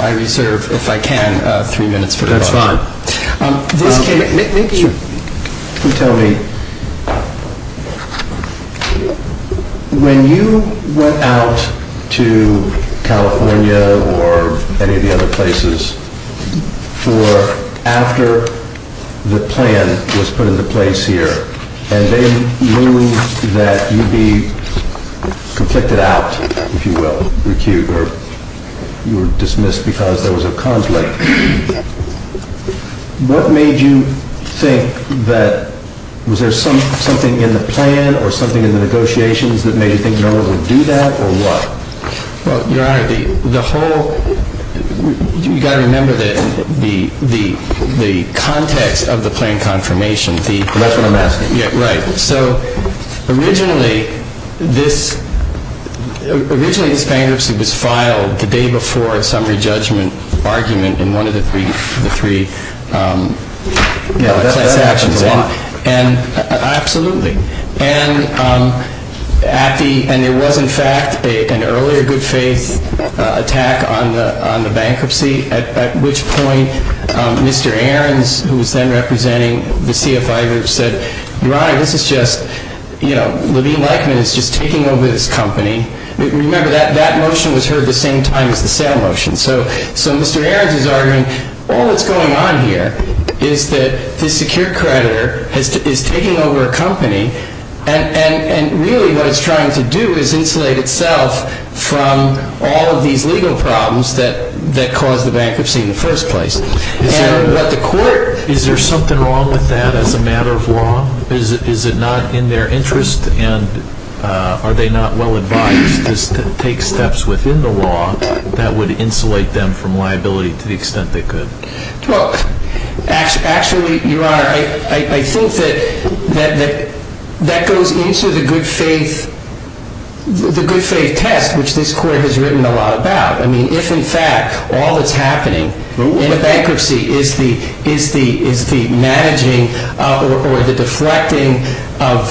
I reserve, if I can, three minutes for the question. The question is, when you went out to California or any of the other places for after the plan was put into place here, and they knew that you'd be conflicted out, if you will, recued, or you were dismissed because there was a conflict, what made you think that, was there something in the plan or something in the negotiations that made you think no one would do that, or what? Well, Your Honor, the whole, you've got to remember the context of the plan confirmation, the- That's what I'm asking. Yeah, right. So, originally, this bankruptcy was filed the day before a summary judgment argument in one of the three class actions. That happens a lot. Absolutely. And there was, in fact, an earlier good faith attack on the bankruptcy, at which point Mr. Aarons, who was then representing the CFI group, said, Your Honor, this is just, you know, Levine-Leichman is just taking over this company. Remember, that motion was heard the same time as the sale motion. So Mr. Aarons is arguing, all that's going on here is that the secure creditor is taking over a company, and really what it's trying to do is insulate itself from all of these legal problems that caused the bankruptcy in the first place. Is there something wrong with that as a matter of law? Is it not in their interest, and are they not well advised to take steps within the law that would insulate them from liability to the extent they could? Well, actually, Your Honor, I think that that goes into the good faith test, which this court has written a lot about. I mean, if, in fact, all that's happening in a bankruptcy is the managing or the deflecting of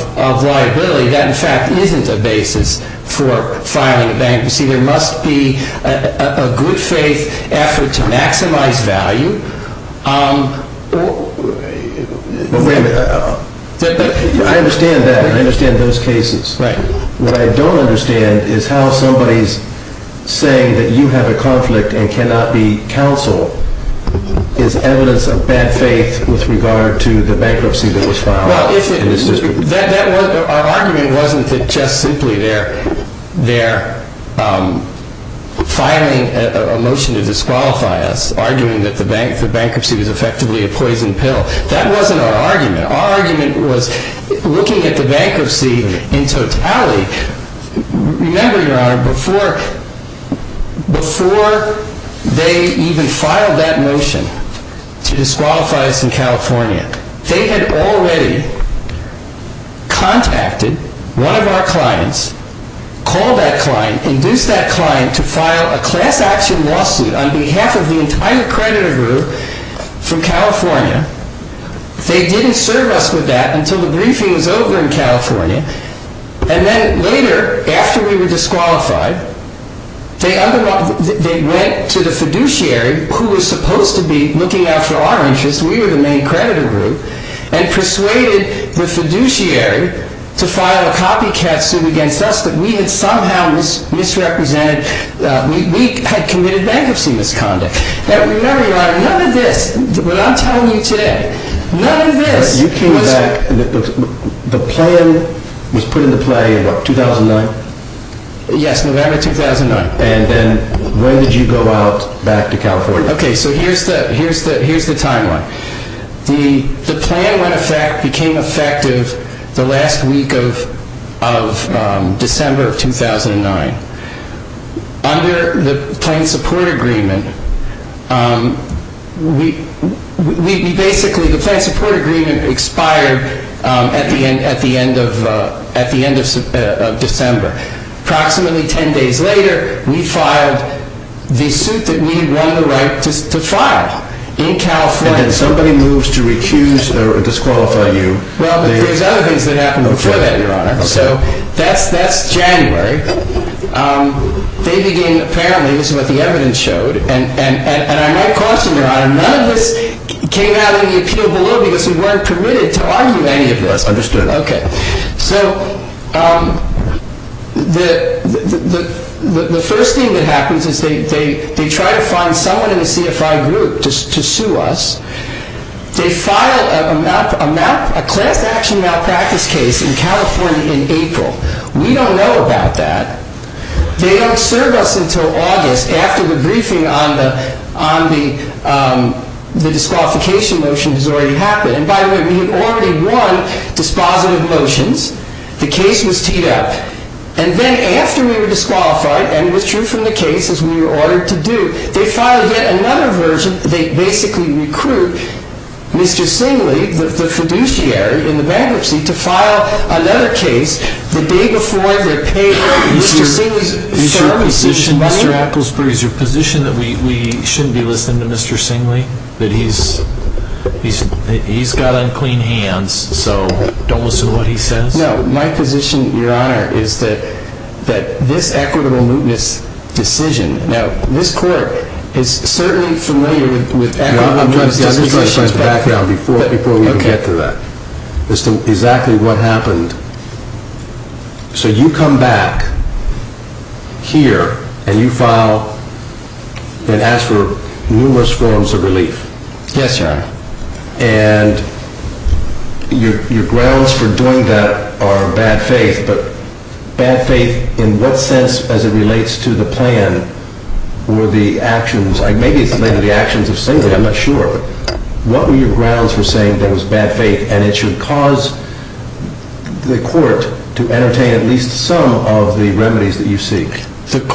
liability, that, in fact, isn't a basis for filing a bankruptcy. There must be a good faith effort to maximize value. Well, wait a minute. I understand that. I understand those cases. Right. But what I don't understand is how somebody's saying that you have a conflict and cannot be counsel is evidence of bad faith with regard to the bankruptcy that was filed in this district. Well, our argument wasn't that just simply they're filing a motion to disqualify us, arguing that the bankruptcy was effectively a poison pill. That wasn't our argument. Our argument was, looking at the bankruptcy in totality, remember, Your Honor, before they even filed that motion to disqualify us in California, they had already contacted one of our clients, called that client, induced that client to file a class action lawsuit on behalf of the entire creditor group from California. They didn't serve us with that until the briefing was over in California. And then later, after we were disqualified, they went to the fiduciary, who was supposed to be looking out for our interests. We were the main creditor group, and persuaded the fiduciary to file a copycat suit against us that we had somehow misrepresented. We had committed bankruptcy misconduct. And remember, Your Honor, none of this, what I'm telling you today, none of this was... You came back, the plan was put into play in what, 2009? Yes, November 2009. And then when did you go out back to California? Okay, so here's the timeline. The plan became effective the last week of December of 2009. Under the Planned Support Agreement, we basically... The Planned Support Agreement expired at the end of December. Approximately ten days later, we filed the suit that we won the right to file in California. And then somebody moves to recuse or disqualify you. Well, but there's other things that happened before that, Your Honor. So that's January. They began, apparently, this is what the evidence showed, and I'm not questioning, Your Honor, none of this came out of the appeal below because we weren't permitted to argue any of this. Yes, understood. Okay. So the first thing that happens is they try to find someone in the CFI group to sue us. They filed a class action malpractice case in California in April. We don't know about that. They don't serve us until August after the briefing on the disqualification motion has already happened. And by the way, we had already won dispositive motions. The case was teed up. And then after we were disqualified and withdrew from the case, as we were ordered to do, they filed yet another version. They basically recruit Mr. Singley, the fiduciary in the bankruptcy, to file another case the day before they're paid Mr. Singley's services. Is your position, Mr. Applesbury, is your position that we shouldn't be listening to Mr. Singley? That he's got unclean hands, so don't listen to what he says? No, my position, Your Honor, is that this equitable mootness decision, now this Court is certainly familiar with equitable mootness decisions, I'm just going to try to find the background before we can get to that, as to exactly what happened. So you come back here and you file and ask for numerous forms of relief. Yes, Your Honor. And your grounds for doing that are bad faith, but bad faith in what sense as it relates to the plan or the actions? Maybe it's related to the actions of Singley, I'm not sure. What were your grounds for saying that was bad faith and it should cause the Court to entertain at least some of the remedies that you seek? The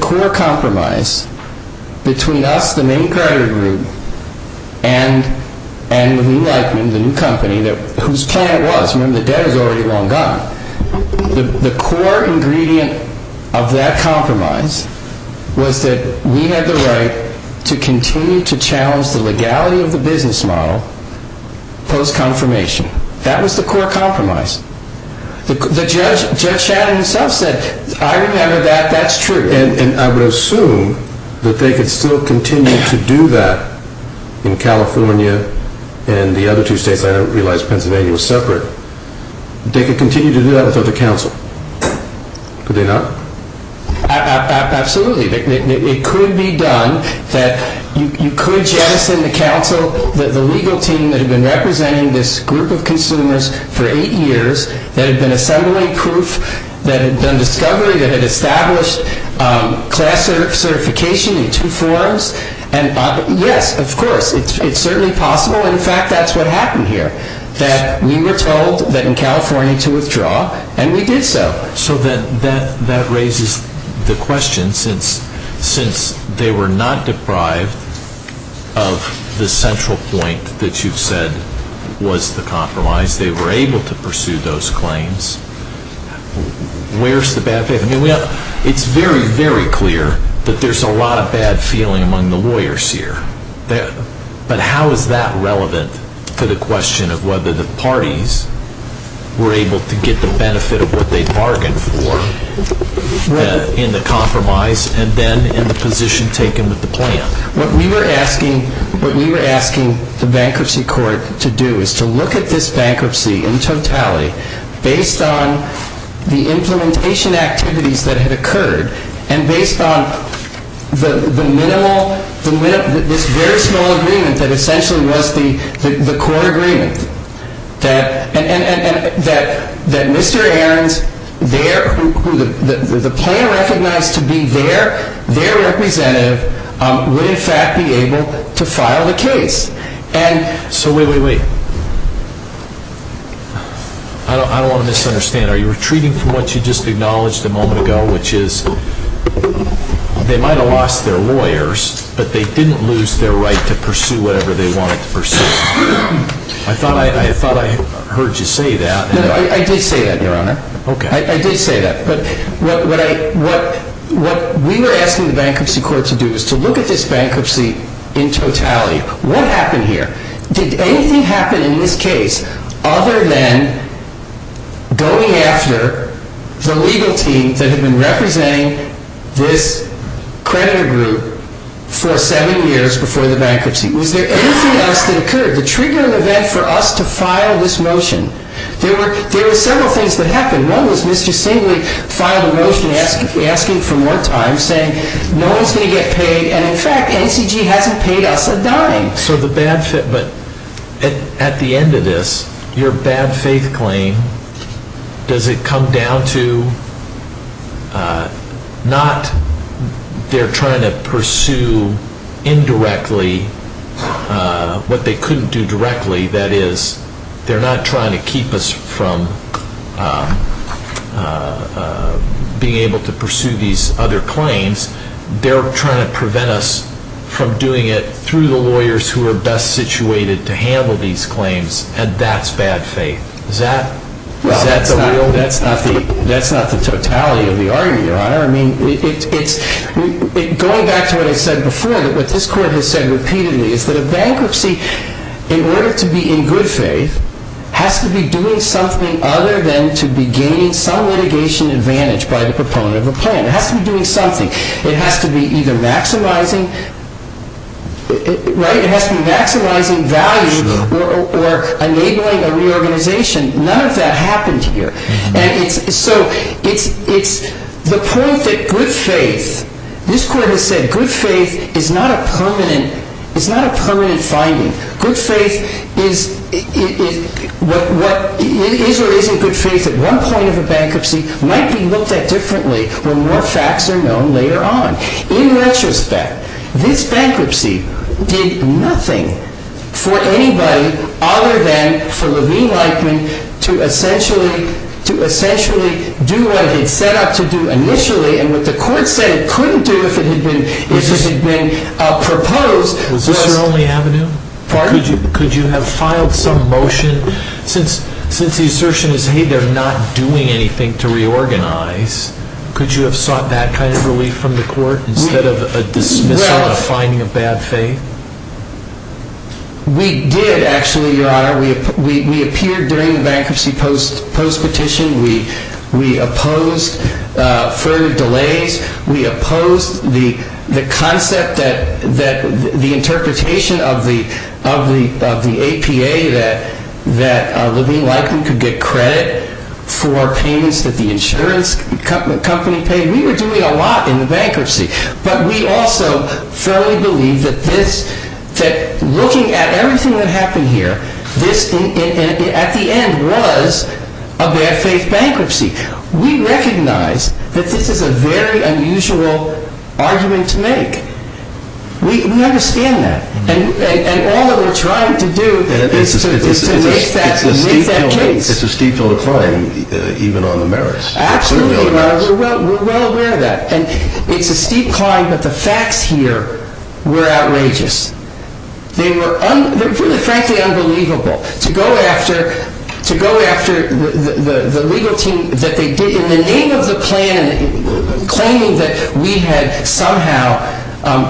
core compromise between us, the main credit group, and Lee Lightman, the new company, whose plan was, remember the debt is already long gone, the core ingredient of that compromise was that we had the right to continue to challenge the legality of the business model post-confirmation. That was the core compromise. The Judge Shannon himself said, I remember that, that's true. And I would assume that they could still continue to do that in California and the other two states, I don't realize Pennsylvania was separate. They could continue to do that without the counsel. Could they not? Absolutely. It could be done that you could jettison the counsel, the legal team that had been representing this group of consumers for eight years that had been assembling proof, that had done discovery, that had established class certification in two forms. Yes, of course, it's certainly possible. In fact, that's what happened here, that we were told that in California to withdraw and we did so. So that raises the question, since they were not deprived of the central point that you've said was the compromise, they were able to pursue those claims, where's the bad faith? It's very, very clear that there's a lot of bad feeling among the lawyers here. But how is that relevant for the question of whether the parties were able to get the benefit of what they bargained for in the compromise and then in the position taken with the plan? What we were asking the bankruptcy court to do is to look at this bankruptcy in totality based on the implementation activities that had occurred and based on this very small agreement that essentially was the court agreement that Mr. Aarons, the plan recognized to be their representative, would in fact be able to file the case. So wait, wait, wait, I don't want to misunderstand. Are you retreating from what you just acknowledged a moment ago, which is they might have lost their lawyers, but they didn't lose their right to pursue whatever they wanted to pursue? I thought I heard you say that. I did say that, Your Honor. I did say that, but what we were asking the bankruptcy court to do is to look at this bankruptcy in totality. What happened here? Did anything happen in this case other than going after the legal team that had been representing this creditor group for seven years before the bankruptcy? Was there anything else that occurred to trigger an event for us to file this motion? There were several things that happened. One was Mr. Singley filed a motion asking for more time, saying no one's going to get paid, and in fact NACG hasn't paid us a dime. But at the end of this, your bad faith claim, does it come down to not they're trying to pursue indirectly what they couldn't do directly, that is they're not trying to keep us from being able to pursue these other claims, they're trying to prevent us from doing it through the lawyers who are best situated to handle these claims, and that's bad faith. Is that the real? That's not the totality of the argument, Your Honor. Going back to what I said before, what this court has said repeatedly is that a bankruptcy, in order to be in good faith, has to be doing something other than to be gaining some litigation advantage by the proponent of a plan. It has to be doing something. It has to be either maximizing value or enabling a reorganization. None of that happened here. And so it's the point that good faith, this court has said good faith is not a permanent finding. Good faith is or isn't good faith at one point of a bankruptcy, might be looked at differently when more facts are known later on. In retrospect, this bankruptcy did nothing for anybody other than for Levine Lightman to essentially do what he set out to do initially, and what the court said it couldn't do if it had been proposed. Was this your only avenue? Pardon? Could you have filed some motion? Since the assertion is, hey, they're not doing anything to reorganize, could you have sought that kind of relief from the court instead of a dismissal, a finding of bad faith? We did, actually, Your Honor. We appeared during the bankruptcy post-petition. We opposed further delays. We opposed the concept that the interpretation of the APA that Levine Lightman could get credit for payments that the insurance company paid. We were doing a lot in the bankruptcy. But we also firmly believe that looking at everything that happened here, this, at the end, was a bad faith bankruptcy. We recognize that this is a very unusual argument to make. We understand that. And all that we're trying to do is to make that case. It's a steep hill to climb, even on the merits. Absolutely, Your Honor. We're well aware of that. And it's a steep climb, but the facts here were outrageous. They were really, frankly, unbelievable. To go after the legal team that they did in the name of the plan, claiming that we had somehow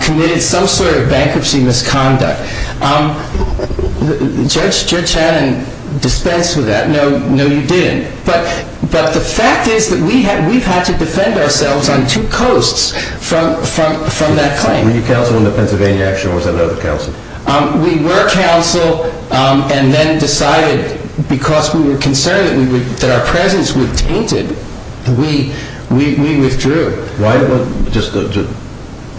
committed some sort of bankruptcy misconduct. Judge Channon dispensed with that. No, you didn't. But the fact is that we've had to defend ourselves on two coasts from that claim. Were you counsel in the Pennsylvania action or was that another counsel? We were counsel and then decided, because we were concerned that our presence would be tainted, we withdrew. Just a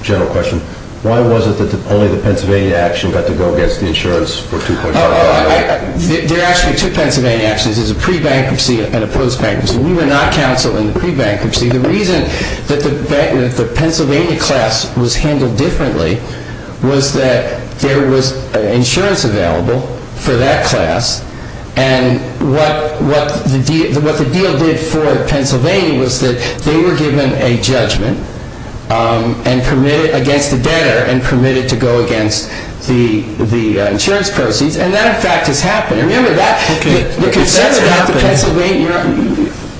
general question. Why was it that only the Pennsylvania action got to go against the insurance for $2.5 million? There are actually two Pennsylvania actions. There's a pre-bankruptcy and a post-bankruptcy. We were not counsel in the pre-bankruptcy. The reason that the Pennsylvania class was handled differently was that there was insurance available for that class. And what the deal did for Pennsylvania was that they were given a judgment against the debtor and permitted to go against the insurance proceeds. And that in fact has happened.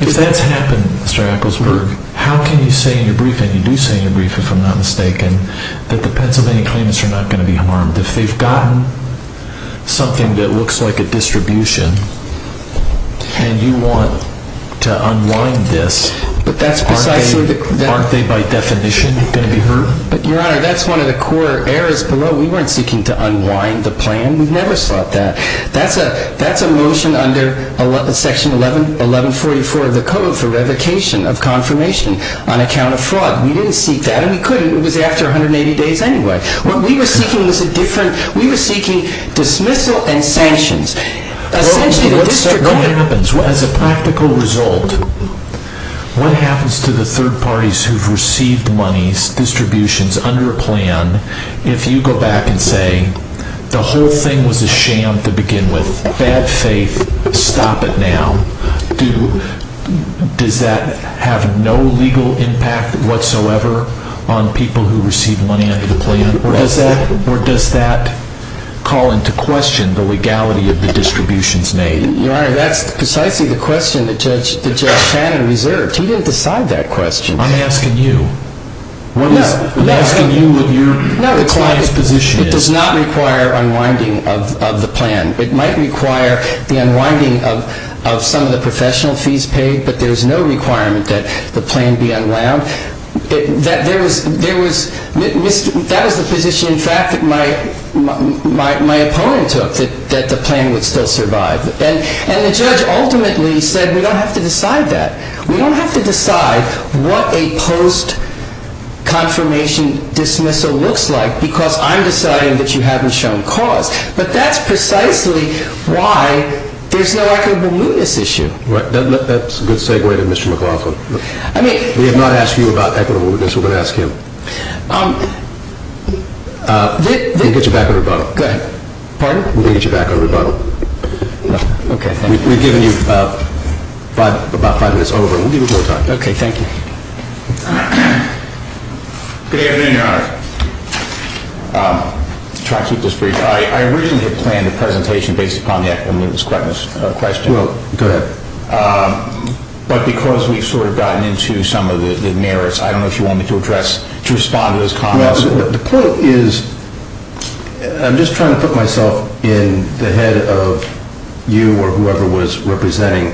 If that's happened, Mr. Ecclesburg, how can you say in your briefing, and you do say in your briefing if I'm not mistaken, that the Pennsylvania claims are not going to be harmed? If they've gotten something that looks like a distribution and you want to unwind this, aren't they by definition going to be hurt? Your Honor, that's one of the core errors below. We weren't seeking to unwind the plan. We've never sought that. That's a motion under Section 1144 of the Code for revocation of confirmation on account of fraud. We didn't seek that and we couldn't. It was after 180 days anyway. We were seeking dismissal and sanctions. What happens as a practical result? What happens to the third parties who've received money distributions under a plan if you go back and say the whole thing was a sham to begin with? Bad faith. Stop it now. Does that have no legal impact whatsoever on people who receive money under the plan? Or does that call into question the legality of the distributions made? Your Honor, that's precisely the question that Judge Shannon reserved. He didn't decide that question. I'm asking you. I'm asking you what your client's position is. It does not require unwinding of the plan. It might require the unwinding of some of the professional fees paid, but there's no requirement that the plan be unwound. That was the position, in fact, that my opponent took, that the plan would still survive. And the judge ultimately said we don't have to decide that. We don't have to decide what a post-confirmation dismissal looks like because I'm deciding that you haven't shown cause. But that's precisely why there's no equitable mootness issue. That's a good segue to Mr. McLaughlin. We have not asked you about equitable mootness. We're going to ask him. We'll get you back on rebuttal. Pardon? We'll get you back on rebuttal. Okay. We've given you about five minutes over. We'll give you more time. Okay. Thank you. Good afternoon, Your Honor. I'll try to keep this brief. I originally had planned a presentation based upon the equitable mootness question. Well, go ahead. But because we've sort of gotten into some of the merits, I don't know if you want me to address, to respond to those comments. The point is, I'm just trying to put myself in the head of you or whoever was representing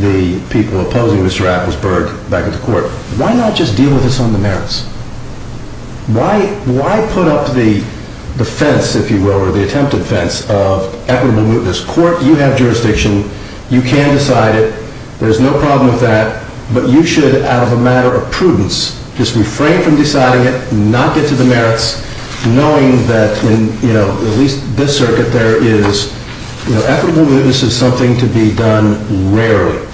the people opposing Mr. Applesburg back at the court. Why not just deal with us on the merits? Why put up the fence, if you will, or the attempted fence of equitable mootness? Court, you have jurisdiction. You can decide it. There's no problem with that. But you should, out of a matter of prudence, just refrain from deciding it, not get to the merits, knowing that, at least in this circuit, equitable mootness is something to be done rarely.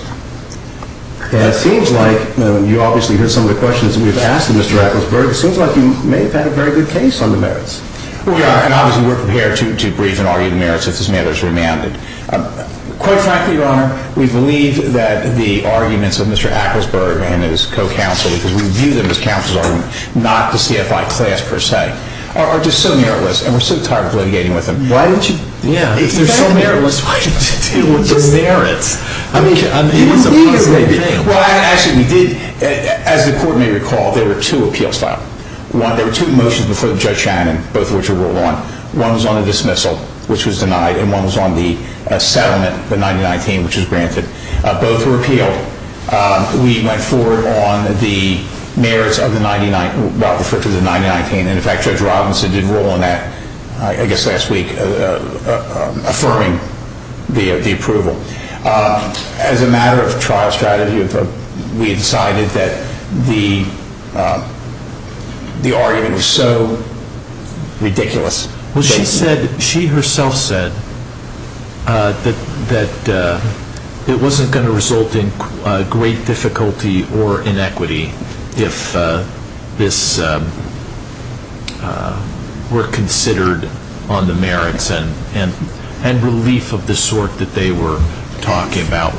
It seems like, and you obviously heard some of the questions we've asked Mr. Applesburg, it seems like you may have had a very good case on the merits. We are, and obviously we're prepared to brief and argue the merits if this matter is remanded. Quite frankly, Your Honor, we believe that the arguments of Mr. Applesburg and his co-counsel, if we view them as counsel's arguments, not the CFI class per se, are just so meritless and we're so tired of litigating with them. If they're so meritless, why didn't you deal with the merits? I mean, it is a fundamental thing. Well, actually, we did. As the Court may recall, there were two appeals filed. There were two motions before Judge Shannon, both of which were ruled on. One was on a dismissal, which was denied, and one was on the settlement, the 9019, which was granted. Both were appealed. We went forward on the merits of the 9019, well, referred to as the 9019, and in fact, Judge Robinson did rule on that, I guess last week, affirming the approval. As a matter of trial strategy, we decided that the argument was so ridiculous. Well, she said, she herself said, that it wasn't going to result in great difficulty or inequity if this were considered on the merits and relief of the sort that they were talking about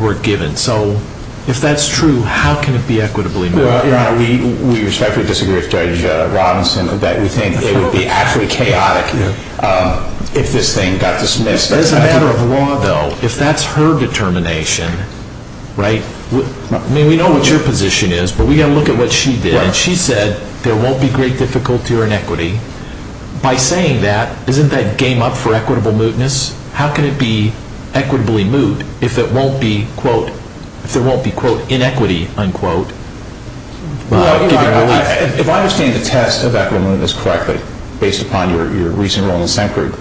were given. So, if that's true, how can it be equitably made? Your Honor, we respectfully disagree with Judge Robinson that we think it would be actually chaotic if this thing got dismissed. As a matter of law, though, if that's her determination, I mean, we know what your position is, but we've got to look at what she did. She said there won't be great difficulty or inequity. By saying that, isn't that game up for equitable mootness? How can it be equitably moot if it won't be, quote, if there won't be, quote, inequity, unquote? Well, Your Honor, if I understand the test of equitable mootness correctly, based upon your recent role in the SEMP group,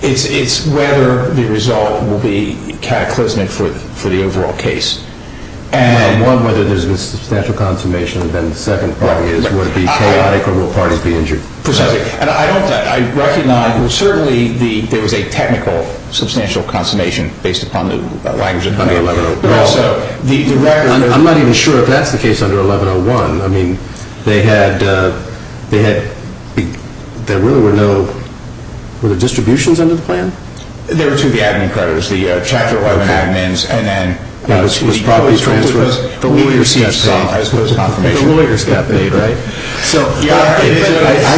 it's whether the result will be cataclysmic for the overall case. One, whether there's a substantial consummation than the second part is, would it be chaotic or will parties be injured? Precisely. And I don't, I recognize, well, certainly, there was a technical substantial consummation based upon the language of 111. I'm not even sure if that's the case under 111. I mean, they had, they had, there really were no, were there distributions under the plan? There were two of the admin creditors, the Chapter 11 admins, and then, it was probably because the lawyers got paid, I suppose, a confirmation. The lawyers got paid, right? I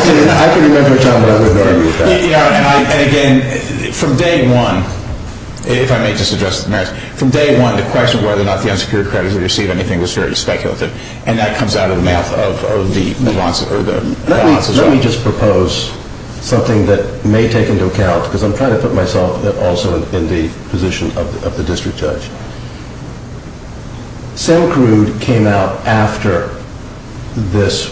can remember a time when I wouldn't argue with that. Yeah, and again, from day one, if I may just address the merits, from day one, the question of whether or not the unsecured creditors received anything was very speculative, and that comes out of the mouth of the nuances. Let me, let me just propose something that may take into account, because I'm trying to put myself also in the position of the district judge. Semcrude came out after this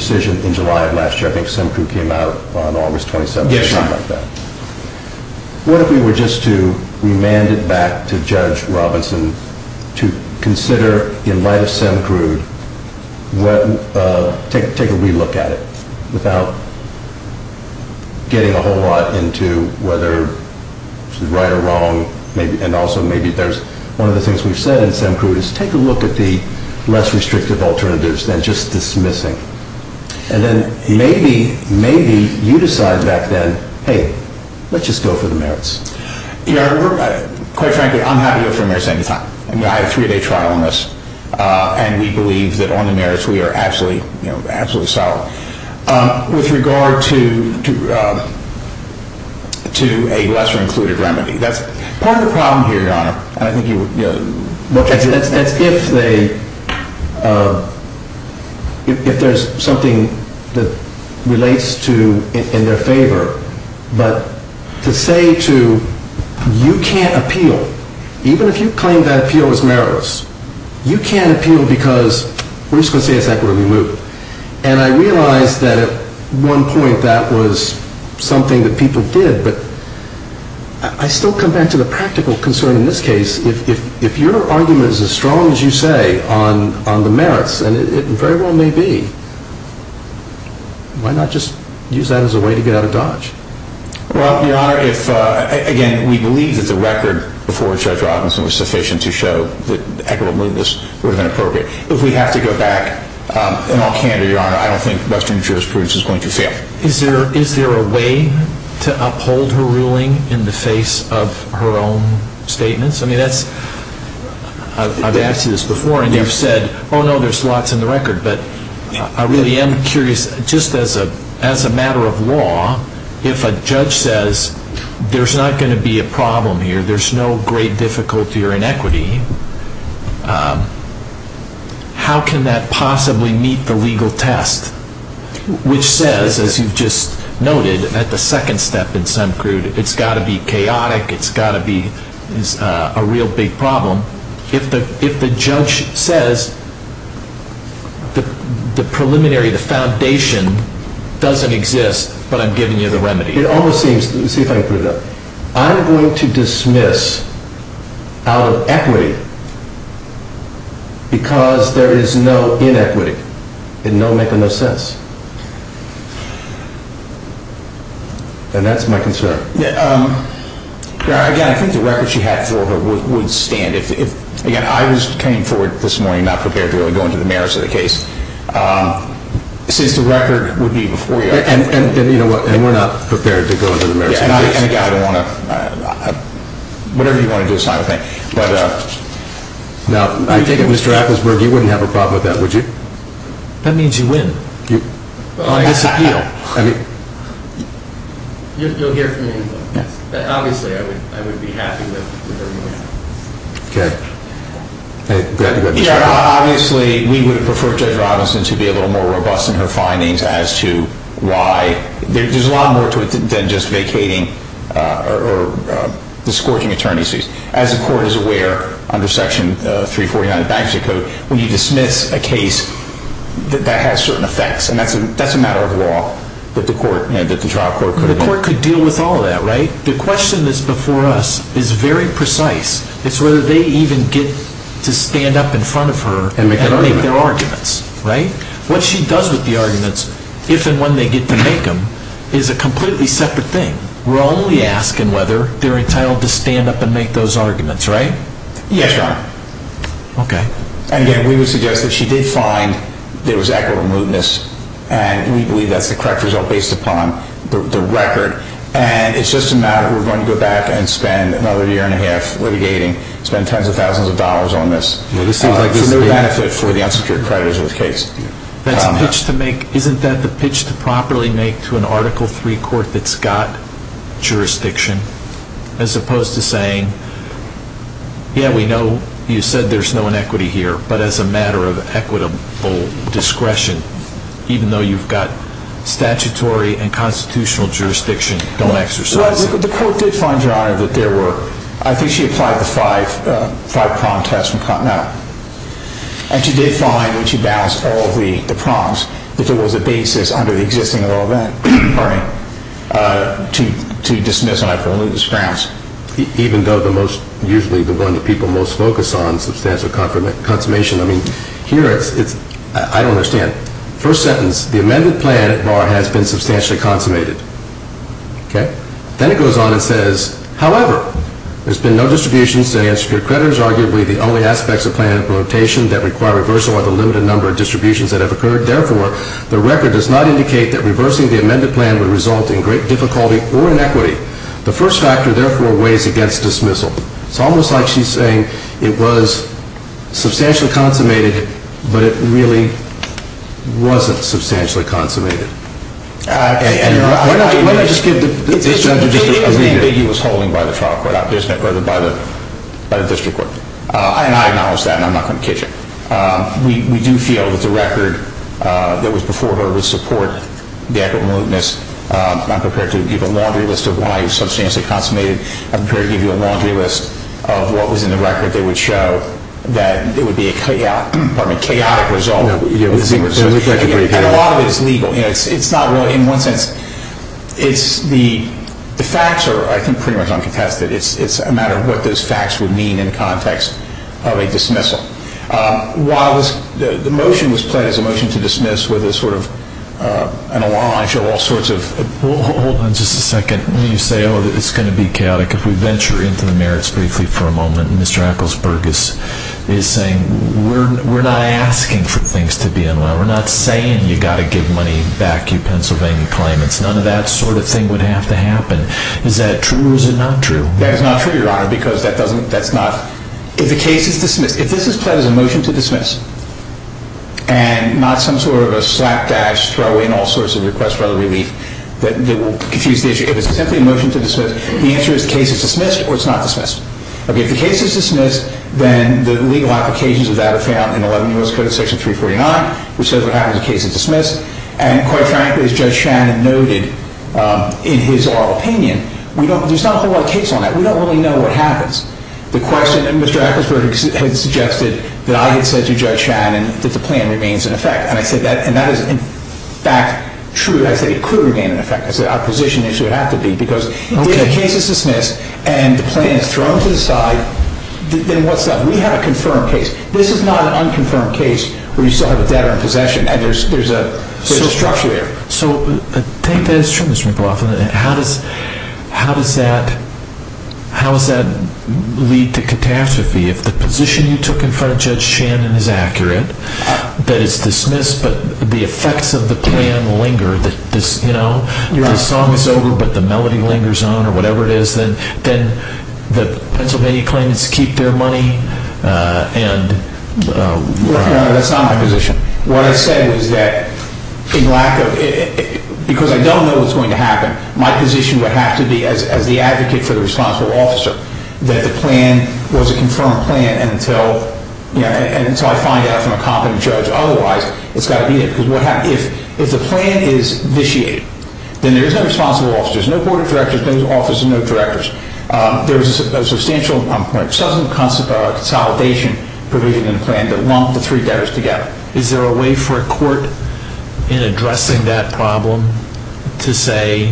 decision in July of last year. I think Semcrude came out on August 27th or something like that. Yes, Your Honor. What if we were just to remand it back to Judge Robinson to consider, in light of Semcrude, take a re-look at it, without getting a whole lot into whether it's right or wrong, and also maybe there's, one of the things we've said in Semcrude is take a look at the less restrictive alternatives than just dismissing. hey, let's just go for the merits. Your Honor, quite frankly, I'm happy to go for the merits any time. I mean, I have a three-day trial on this, and we believe that on the merits we are absolutely, you know, absolutely solid. With regard to a lesser-included remedy, that's part of the problem here, Your Honor, and I think you would, you know, That's if they, if there's something that relates to, in their favor, but to say to, you can't appeal, even if you claim that appeal is meritless, you can't appeal because we're just going to say it's equitable to remove. And I realize that at one point that was something that people did, but I still come back to the practical concern in this case. If your argument is as strong as you say on the merits, and it very well may be, why not just use that as a way to get out of Dodge? Well, Your Honor, if, again, we believe that the record before Judge Robinson was sufficient to show that equitable mootness would have been appropriate. If we have to go back, in all candor, Your Honor, I don't think Western jurisprudence is going to fail. Is there a way to uphold her ruling in the face of her own statements? I mean, that's, I've asked you this before, and you've said, oh no, there's slots in the record, but I really am curious, just as a matter of law, if a judge says there's not going to be a problem here, there's no great difficulty or inequity, how can that possibly meet the legal test? Which says, as you've just noted, at the second step in some crude, it's got to be chaotic, it's got to be a real big problem. If the judge says the preliminary, the foundation, doesn't exist, but I'm giving you the remedy. It almost seems, see if I can put it up, I'm going to dismiss out of equity because there is no inequity, and no making of sense. And that's my concern. Again, I think the record she had for her would stand. Again, I was came forward this morning not prepared to go into the merits of the case. Since the record would be before you. And we're not prepared to go into the merits of the case. Whatever you want to do, sign with me. Now, I take it, Mr. Appelsberg, you wouldn't have a problem with that, would you? That means you win. You'll hear from me. Obviously, I would be happy with whatever you have. Okay. Obviously, we would prefer Judge Robinson to be a little more robust in her findings as to why, there's a lot more to it than just vacating or discouraging attorneys. As the court is aware, under section 349 of the bankruptcy code, when you dismiss a case that has certain effects, and that's a matter of law that the trial court could... The court could deal with all of that, right? The question that's before us is very precise. It's whether they even get to stand up in front of her and make their arguments, right? What she does with the arguments, if and when they get to make them, is a completely separate thing. We're only asking whether they're entitled to stand up and make those arguments, right? Yes, Your Honor. Okay. And again, we would suggest that she did find there was equitable mootness, and we believe that's the correct result based upon the record. And it's just a matter of, we're going to go back and spend another year and a half litigating, spend tens of thousands of dollars on this for no benefit for the unsecured creditors of the case. Isn't that the pitch to properly make to an Article 3 court that's got jurisdiction, as opposed to saying, yeah, we know you said there's no inequity here, but as a matter of equitable discretion, even though you've got statutory and constitutional jurisdiction, don't exercise it? Well, the court did find, Your Honor, that there were, I think she applied the five-prong test from Continental. And she did find when she balanced all the prongs that there was a basis under the existing law of inquiry to dismiss an article of mootness grounds. Usually the one that people most focus on is substantial consummation. I mean, here it's, I don't understand. First sentence, the amended plan at bar has been substantially consummated. Then it goes on and says, however, there's been no distributions to unsecured creditors. Arguably the only aspects of plan implementation that require reversal are the limited number of distributions that have occurred. Therefore, the record does not indicate that reversing the amended plan would result in great difficulty or inequity. The first factor, therefore, weighs against dismissal. It's almost like she's saying it was substantially consummated but it really wasn't substantially consummated. Why don't you just give the district court a reading? It was holding by the trial court, by the district court. I acknowledge that and I'm not going to kid you. We do feel that the record that was before her would support the act of mootness. I'm prepared to give a laundry list of why it's substantially consummated. I'm prepared to give you a laundry list of what was in the record that would show that it would be a chaotic result. A lot of it is legal. In one sense, the facts are pretty much uncontested. It's a matter of what those facts would mean in the context of a dismissal. The motion was pledged as a motion to dismiss with an allonge of all sorts of... Hold on just a second. You say it's going to be chaotic. If we venture into the merits briefly Mr. Eccles-Burgess is saying, we're not asking for things to be in line. We're not saying you've got to give money back to Pennsylvania claimants. None of that sort of thing would have to happen. Is that true or is it not true? That is not true, Your Honor. If the case is dismissed, if this is pledged as a motion to dismiss and not some sort of a slapdash that will confuse the issue, if it's simply a motion to dismiss, the answer is the case is dismissed or it's not dismissed. If the case is dismissed, then the legal applications of that are found in 11 U.S. Code section 349 which says what happens if the case is dismissed and quite frankly as Judge Shannon noted in his oral opinion, there's not a whole lot of case on that. We don't really know what happens. Mr. Eccles-Burgess had suggested that I had said to Judge Shannon that the plan remains in effect and that is in fact true. I say it could remain in effect. It's an opposition issue. If the case is dismissed and the plan is thrown to the side, then what's up? We have a confirmed case. This is not an unconfirmed case where you still have a debtor in possession and there's a structure there. So I think that is true, Mr. McLaughlin. How does that lead to catastrophe if the position you took in front of Judge Shannon is accurate, that it's dismissed but the effects of the plan linger that the song is over but the melody lingers on or whatever it is, then the Pennsylvania claimants keep their money? No, that's not my position. What I said was that because I don't know what's going to happen, my position would have to be as the advocate for the responsible officer that the plan was a confirmed plan until I find out from a competent judge. Otherwise, it's got to be it. If the plan is vitiated, then there's no responsible officer, there's no board of directors, there's no office of directors. There's a substantial consolidation provision in the plan that lumped the three debtors together. Is there a way for a court in addressing that problem to say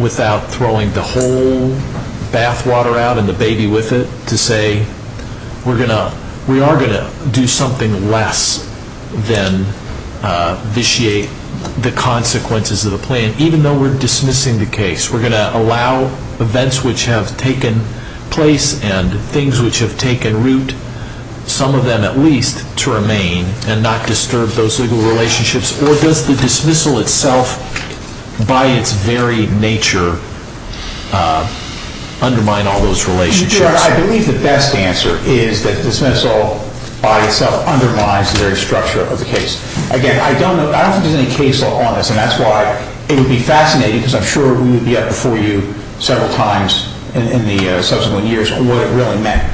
without throwing the whole bathwater out and the baby with it to say we are going to do something less than vitiate the consequences of the plan even though we're dismissing the case? We're going to allow events which have taken place and things which have taken root some of them at least to remain and not disturb those legal relationships? Or does the dismissal itself by its very nature undermine all those relationships? I believe the best answer is that the dismissal by itself undermines the very structure of the case. Again, I don't know if there's any case law on this and that's why it would be fascinating because I'm sure we would be up before you several times in the subsequent years what it really meant.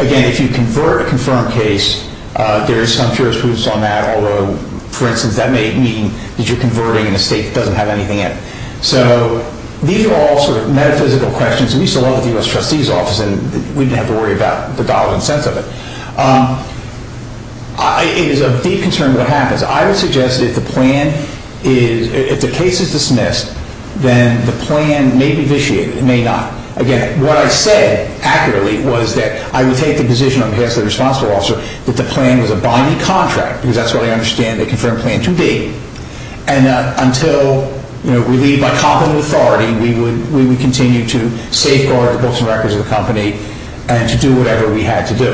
Again, if you convert a confirmed case there is some jurisprudence on that although for instance that may mean that you're converting in a state that doesn't have anything in it. So these are all sort of metaphysical questions and we used to love the U.S. Trustee's office and we didn't have to worry about the dollars and cents of it. It is of deep concern what happens. I would suggest that if the plan is, if the case is dismissed then the plan may be vitiated. It may not. Again, what I said accurately was that I would take the position on behalf of the responsible officer that the plan was a binding contract because that's what I understand a confirmed plan to be and that until we leave by competent authority we would continue to safeguard the books and records of the company and to do whatever we had to do.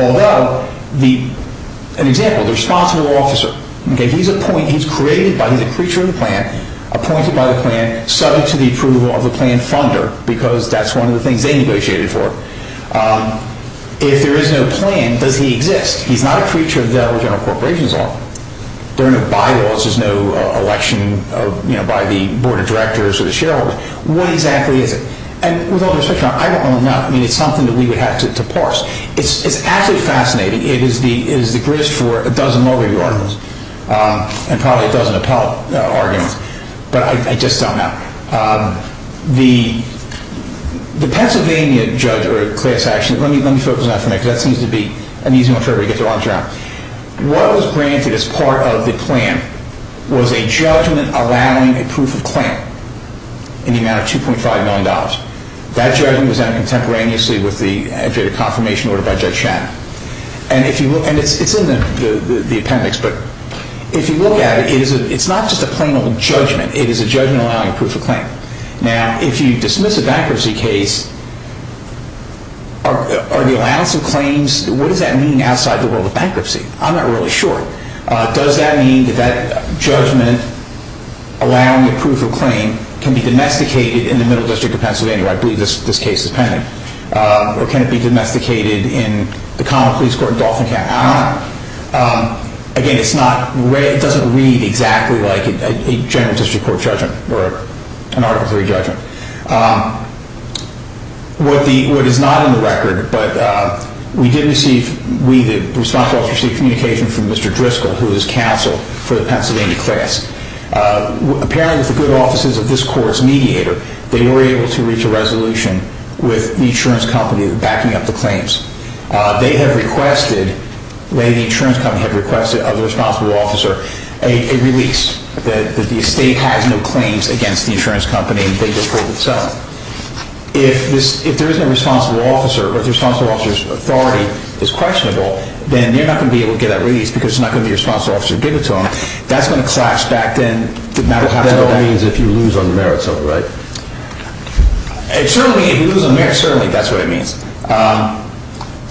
Although, an example, the responsible officer he's a point, he's created by, he's a creature in the plan, appointed by the plan subject to the approval of the plan funder because that's one of the things they negotiated for. If there is no plan, does he exist? He's not a creature that our general corporation is on. There are no bylaws, there's no election by the board of directors or the shareholders. What exactly is it? With all due respect, I don't know enough. It's something we would have to parse. It's actually fascinating. It is the grist for a dozen law review articles and probably a dozen appellate arguments, but I just don't know. The Pennsylvania judge or class action, let me focus on that for a minute because that seems to be an easy one for everybody to get their arms around. What was granted as part of the plan was a judgment allowing a proof of claim in the amount of $2.5 million. That judgment was done contemporaneously with the confirmation order by Judge Shannon. It's in the appendix but if you look at it it's not just a plain old judgment it is a judgment allowing a proof of claim. Now, if you dismiss a bankruptcy case are the allowance of claims what does that mean outside the world of bankruptcy? I'm not really sure. Does that mean that that judgment allowing a proof of claim can be domesticated in the middle district of Pennsylvania, where I believe this case is pending or can it be domesticated in the common police court in Dauphin County? I don't know. Again, it doesn't read exactly like a general district court judgment or an Article 3 judgment. What is not in the record but we did receive the responsible officer received communication from Mr. Driscoll, who is counsel for the Pennsylvania class. Apparently, the good offices of this court are mediators. They were able to reach a resolution with the insurance company backing up the claims. They have requested the insurance company have requested of the responsible officer a release that the state has no claims against the insurance company in the case itself. If there is no responsible officer, or if the responsible officer's authority is questionable, then they're not going to be able to get that release because it's not going to be a responsible officer to give it to them. That's going to clash back then. That all means if you lose on the merits of it, right? Certainly, if you lose on the merits, certainly that's what it means.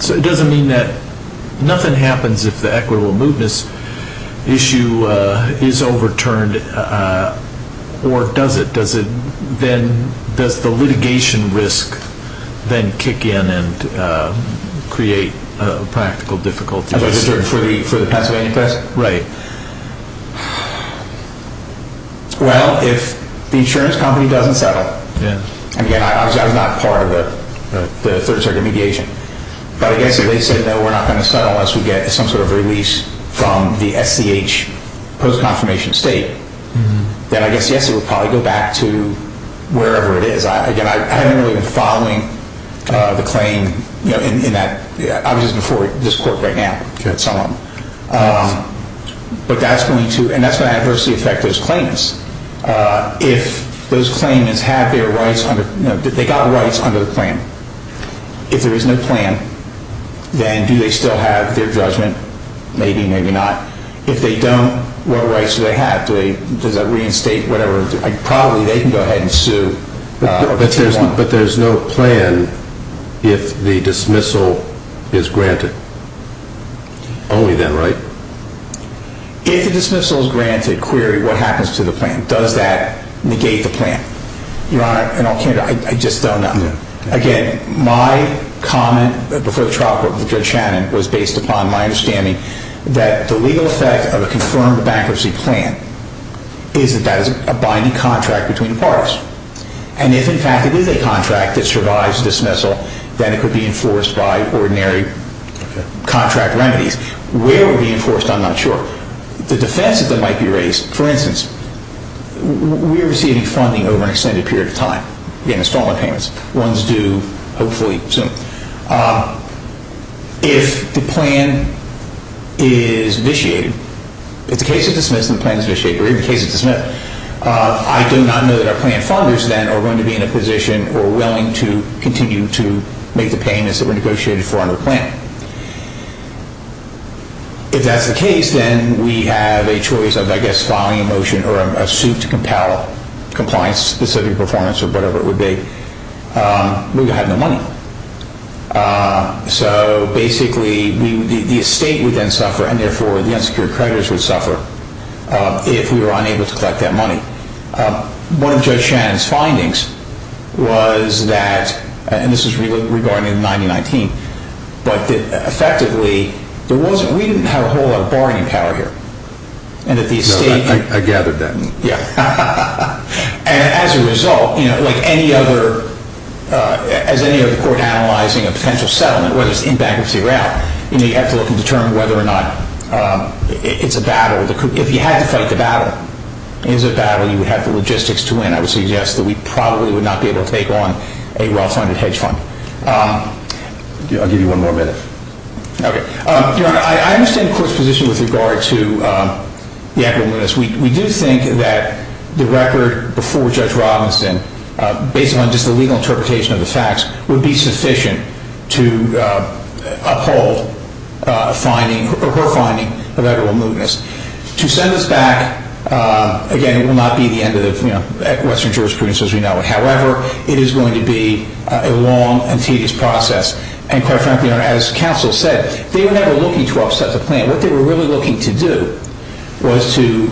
So it doesn't mean that nothing happens if the equitable movements issue is overturned or does it? Does the litigation risk then kick in and create practical difficulties? For the Pennsylvania class? Right. Well, if the insurance company doesn't settle, and again, I was not part of the third circuit mediation, but I guess if they said no, we're not going to settle unless we get some sort of release from the SCH post-confirmation state, then I guess, yes, it would probably go back to wherever it is. Again, I haven't really been following the claim obviously before this court right now at some level. But that's going to adversely affect those claims. If those claimants have their rights under, they got rights under the plan. If there is no plan, then do they still have their judgment? Maybe, maybe not. If they don't, what rights do they have? Does that reinstate whatever? Probably they can go ahead and sue. But there's no plan if the dismissal is granted? Only then, right? If the dismissal is granted, query what happens to the plan. Does that negate the plan? Your Honor, I just don't know. Again, my comment before the trial court with Judge Shannon was based upon my The real effect of a confirmed bankruptcy plan is that that is a binding contract between the parties. And if in fact it is a contract that survives dismissal, then it could be enforced by ordinary contract remedies. Where it would be enforced, I'm not sure. The defenses that might be raised, for instance, we are receiving funding over an extended period of time. Again, installment payments. One's due hopefully soon. If the plan is initiated if the case is dismissed and the plan is initiated or if the case is dismissed, I do not know that our plan funders then are going to be in a position or willing to continue to make the payments that were negotiated for under the plan. If that's the case, then we have a choice of, I guess, filing a motion or a suit to compel compliance specific performance or whatever it would be. We would have no money. So basically the estate would then suffer and therefore the unsecured creditors would suffer if we were unable to collect that money. One of Judge Shannon's findings was that, and this is regarding the 9019, but effectively we didn't have a whole lot of bargaining power here. I gathered that. And as a result like any other as any other court analyzing a potential settlement, whether it's in bankruptcy or out, you have to look and determine whether or not it's a battle. If you had to fight the battle, is it a battle, you would have the logistics to win. I would suggest that we probably would not be able to take on a well-funded hedge fund. I'll give you one more minute. Okay. Your Honor, I understand the Court's position with regard to the equity witness. We do think that the record before Judge Robinson based on just the legal interpretation of the to uphold her finding of equitable mootness. To send this back, again, it will not be the end of the Western jurisprudence as we know it. However, it is going to be a long and tedious process. And quite frankly, as counsel said, they were never looking to upset the plaintiff. What they were really looking to do was to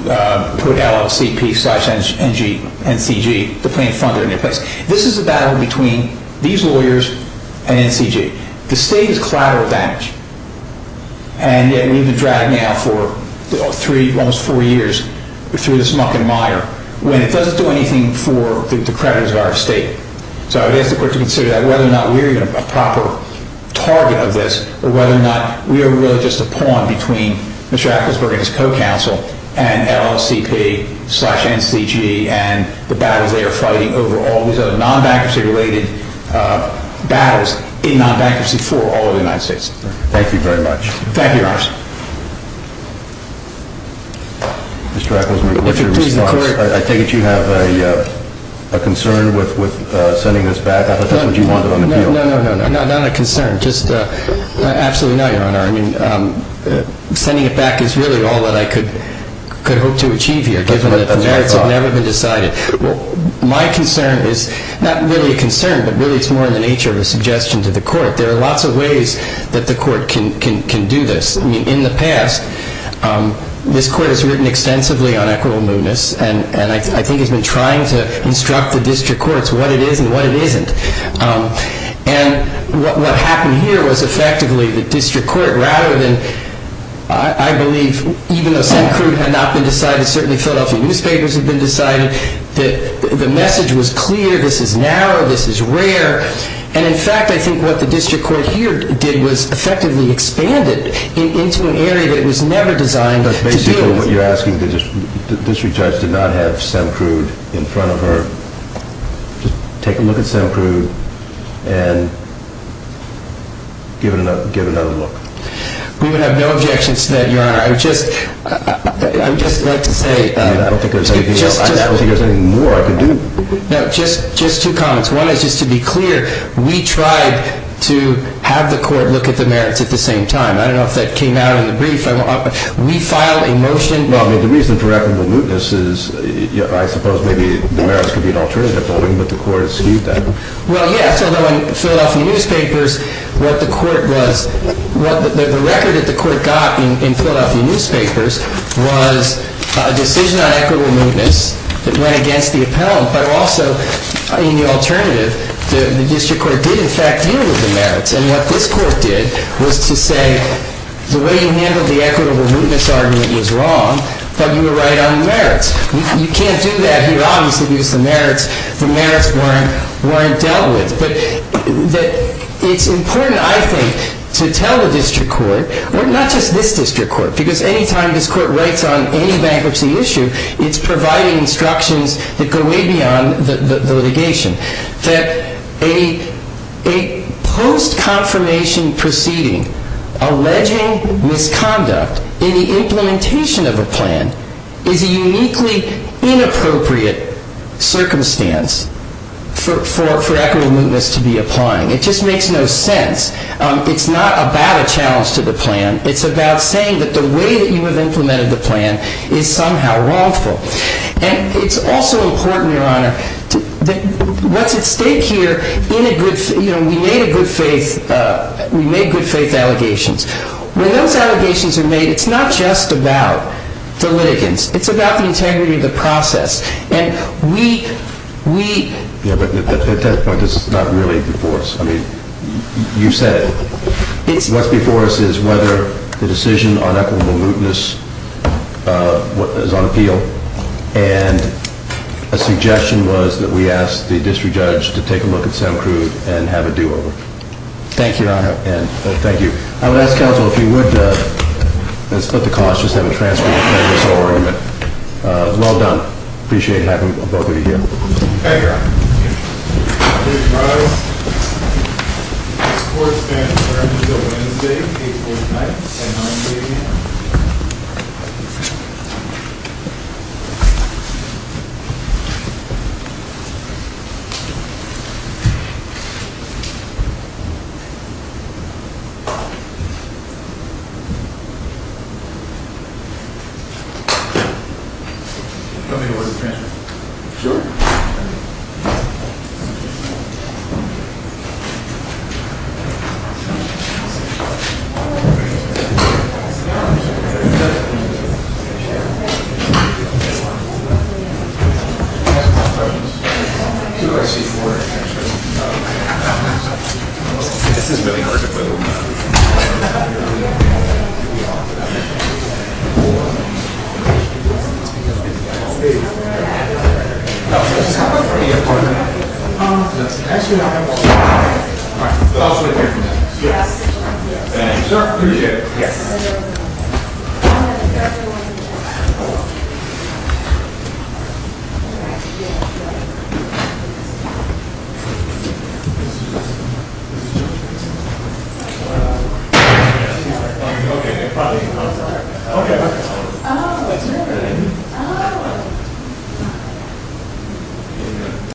put LFCP and NCG, the plaintiff funder, in their place. This is a battle between these lawyers and NCG. The state is collateral damage. And yet we've been dragged now for almost four years through this muck and mire when it doesn't do anything for the creditors of our state. So I would ask the Court to consider that, whether or not we are a proper target of this, or whether or not we are really just a pawn between Mr. Ecclesburg and his co-counsel and LFCP slash NCG and the battles they are fighting over all these other non-bankruptcy-related battles in non-bankruptcy for all of the United States. Thank you very much. Thank you, Your Honor. Mr. Ecclesburg, what's your response? I take it you have a concern with sending this back? I thought that's what you wanted on the deal. No, not a concern. Absolutely not, Your Honor. Sending it back is really all that I could hope to achieve here given that the merits have never been decided. My concern is not really a concern, but really it's more in the nature of a suggestion to the Court. There are lots of ways that the Court can do this. I mean, in the past this Court has written extensively on equitable moodness and I think has been trying to instruct the District Courts what it is and what it isn't. And what happened here was effectively the District Court, rather than I believe, even though Sam Crude had not been decided, certainly Philadelphia newspapers had been decided, the message was clear, this is narrow, this is rare, and in fact I think what the District Court here did was effectively expand it into an area that was never designed to deal with. But basically what you're asking, the District Judge did not have Sam Crude in front of her. Take a look at Sam Crude and give another look. We would have no objections to that, Your Honor, I would just like to say I don't think there's anything more I could do. No, just two comments. One is just to be clear, we tried to have the Court look at the merits at the same time. I don't know if that came out in the brief. We filed a motion Well, I mean, the reason for equitable moodness is, I suppose maybe the merits could be an alternative voting, but the Court skewed that. Well, yes, although in Philadelphia newspapers what the Court was, the record that the Court got in Philadelphia newspapers was a decision on equitable moodness that went against the appellant, but also in the alternative, the District Court did in fact deal with the merits. And what this Court did was to say the way you handled the equitable moodness argument was wrong, but you were right on the merits. You can't do that here, obviously, because the merits weren't dealt with. It's important, I think, to tell the District Court, not just this District Court, because any time this Court writes on any bankruptcy issue it's providing instructions that go way beyond the litigation, that a post-confirmation proceeding alleging misconduct in the implementation of a plan is a uniquely inappropriate circumstance for equitable moodness to be applying. It just makes no sense. It's not about a challenge to the plan. It's about saying that the way that you have implemented the plan is somehow wrongful. And it's also important, Your Honor, what's at stake here in a good, you know, we made a good faith we made good faith allegations. When those allegations are made it's not just about the litigants. It's about the integrity of the process. And we we... I mean, you said it. What's before us is whether the decision on equitable moodness is on appeal. And a suggestion was that we ask the District Judge to take a look at Sam Crude and have a do-over. Thank you, Your Honor. I would ask, Counsel, if you would split the cost, just have a transcript of this whole argument. Well done. Appreciate having both of you here. Thank you, Your Honor. Thank you, Your Honor. This court's been adjourned until Wednesday, April 9th, 10 a.m. Tell me the word of the transcript. Sure. Counsel, this is a pretty important matter. Um, let's ask you not to... All right. Yes. Thank you, sir. Appreciate it. Yes. Okay. Oh. Oh.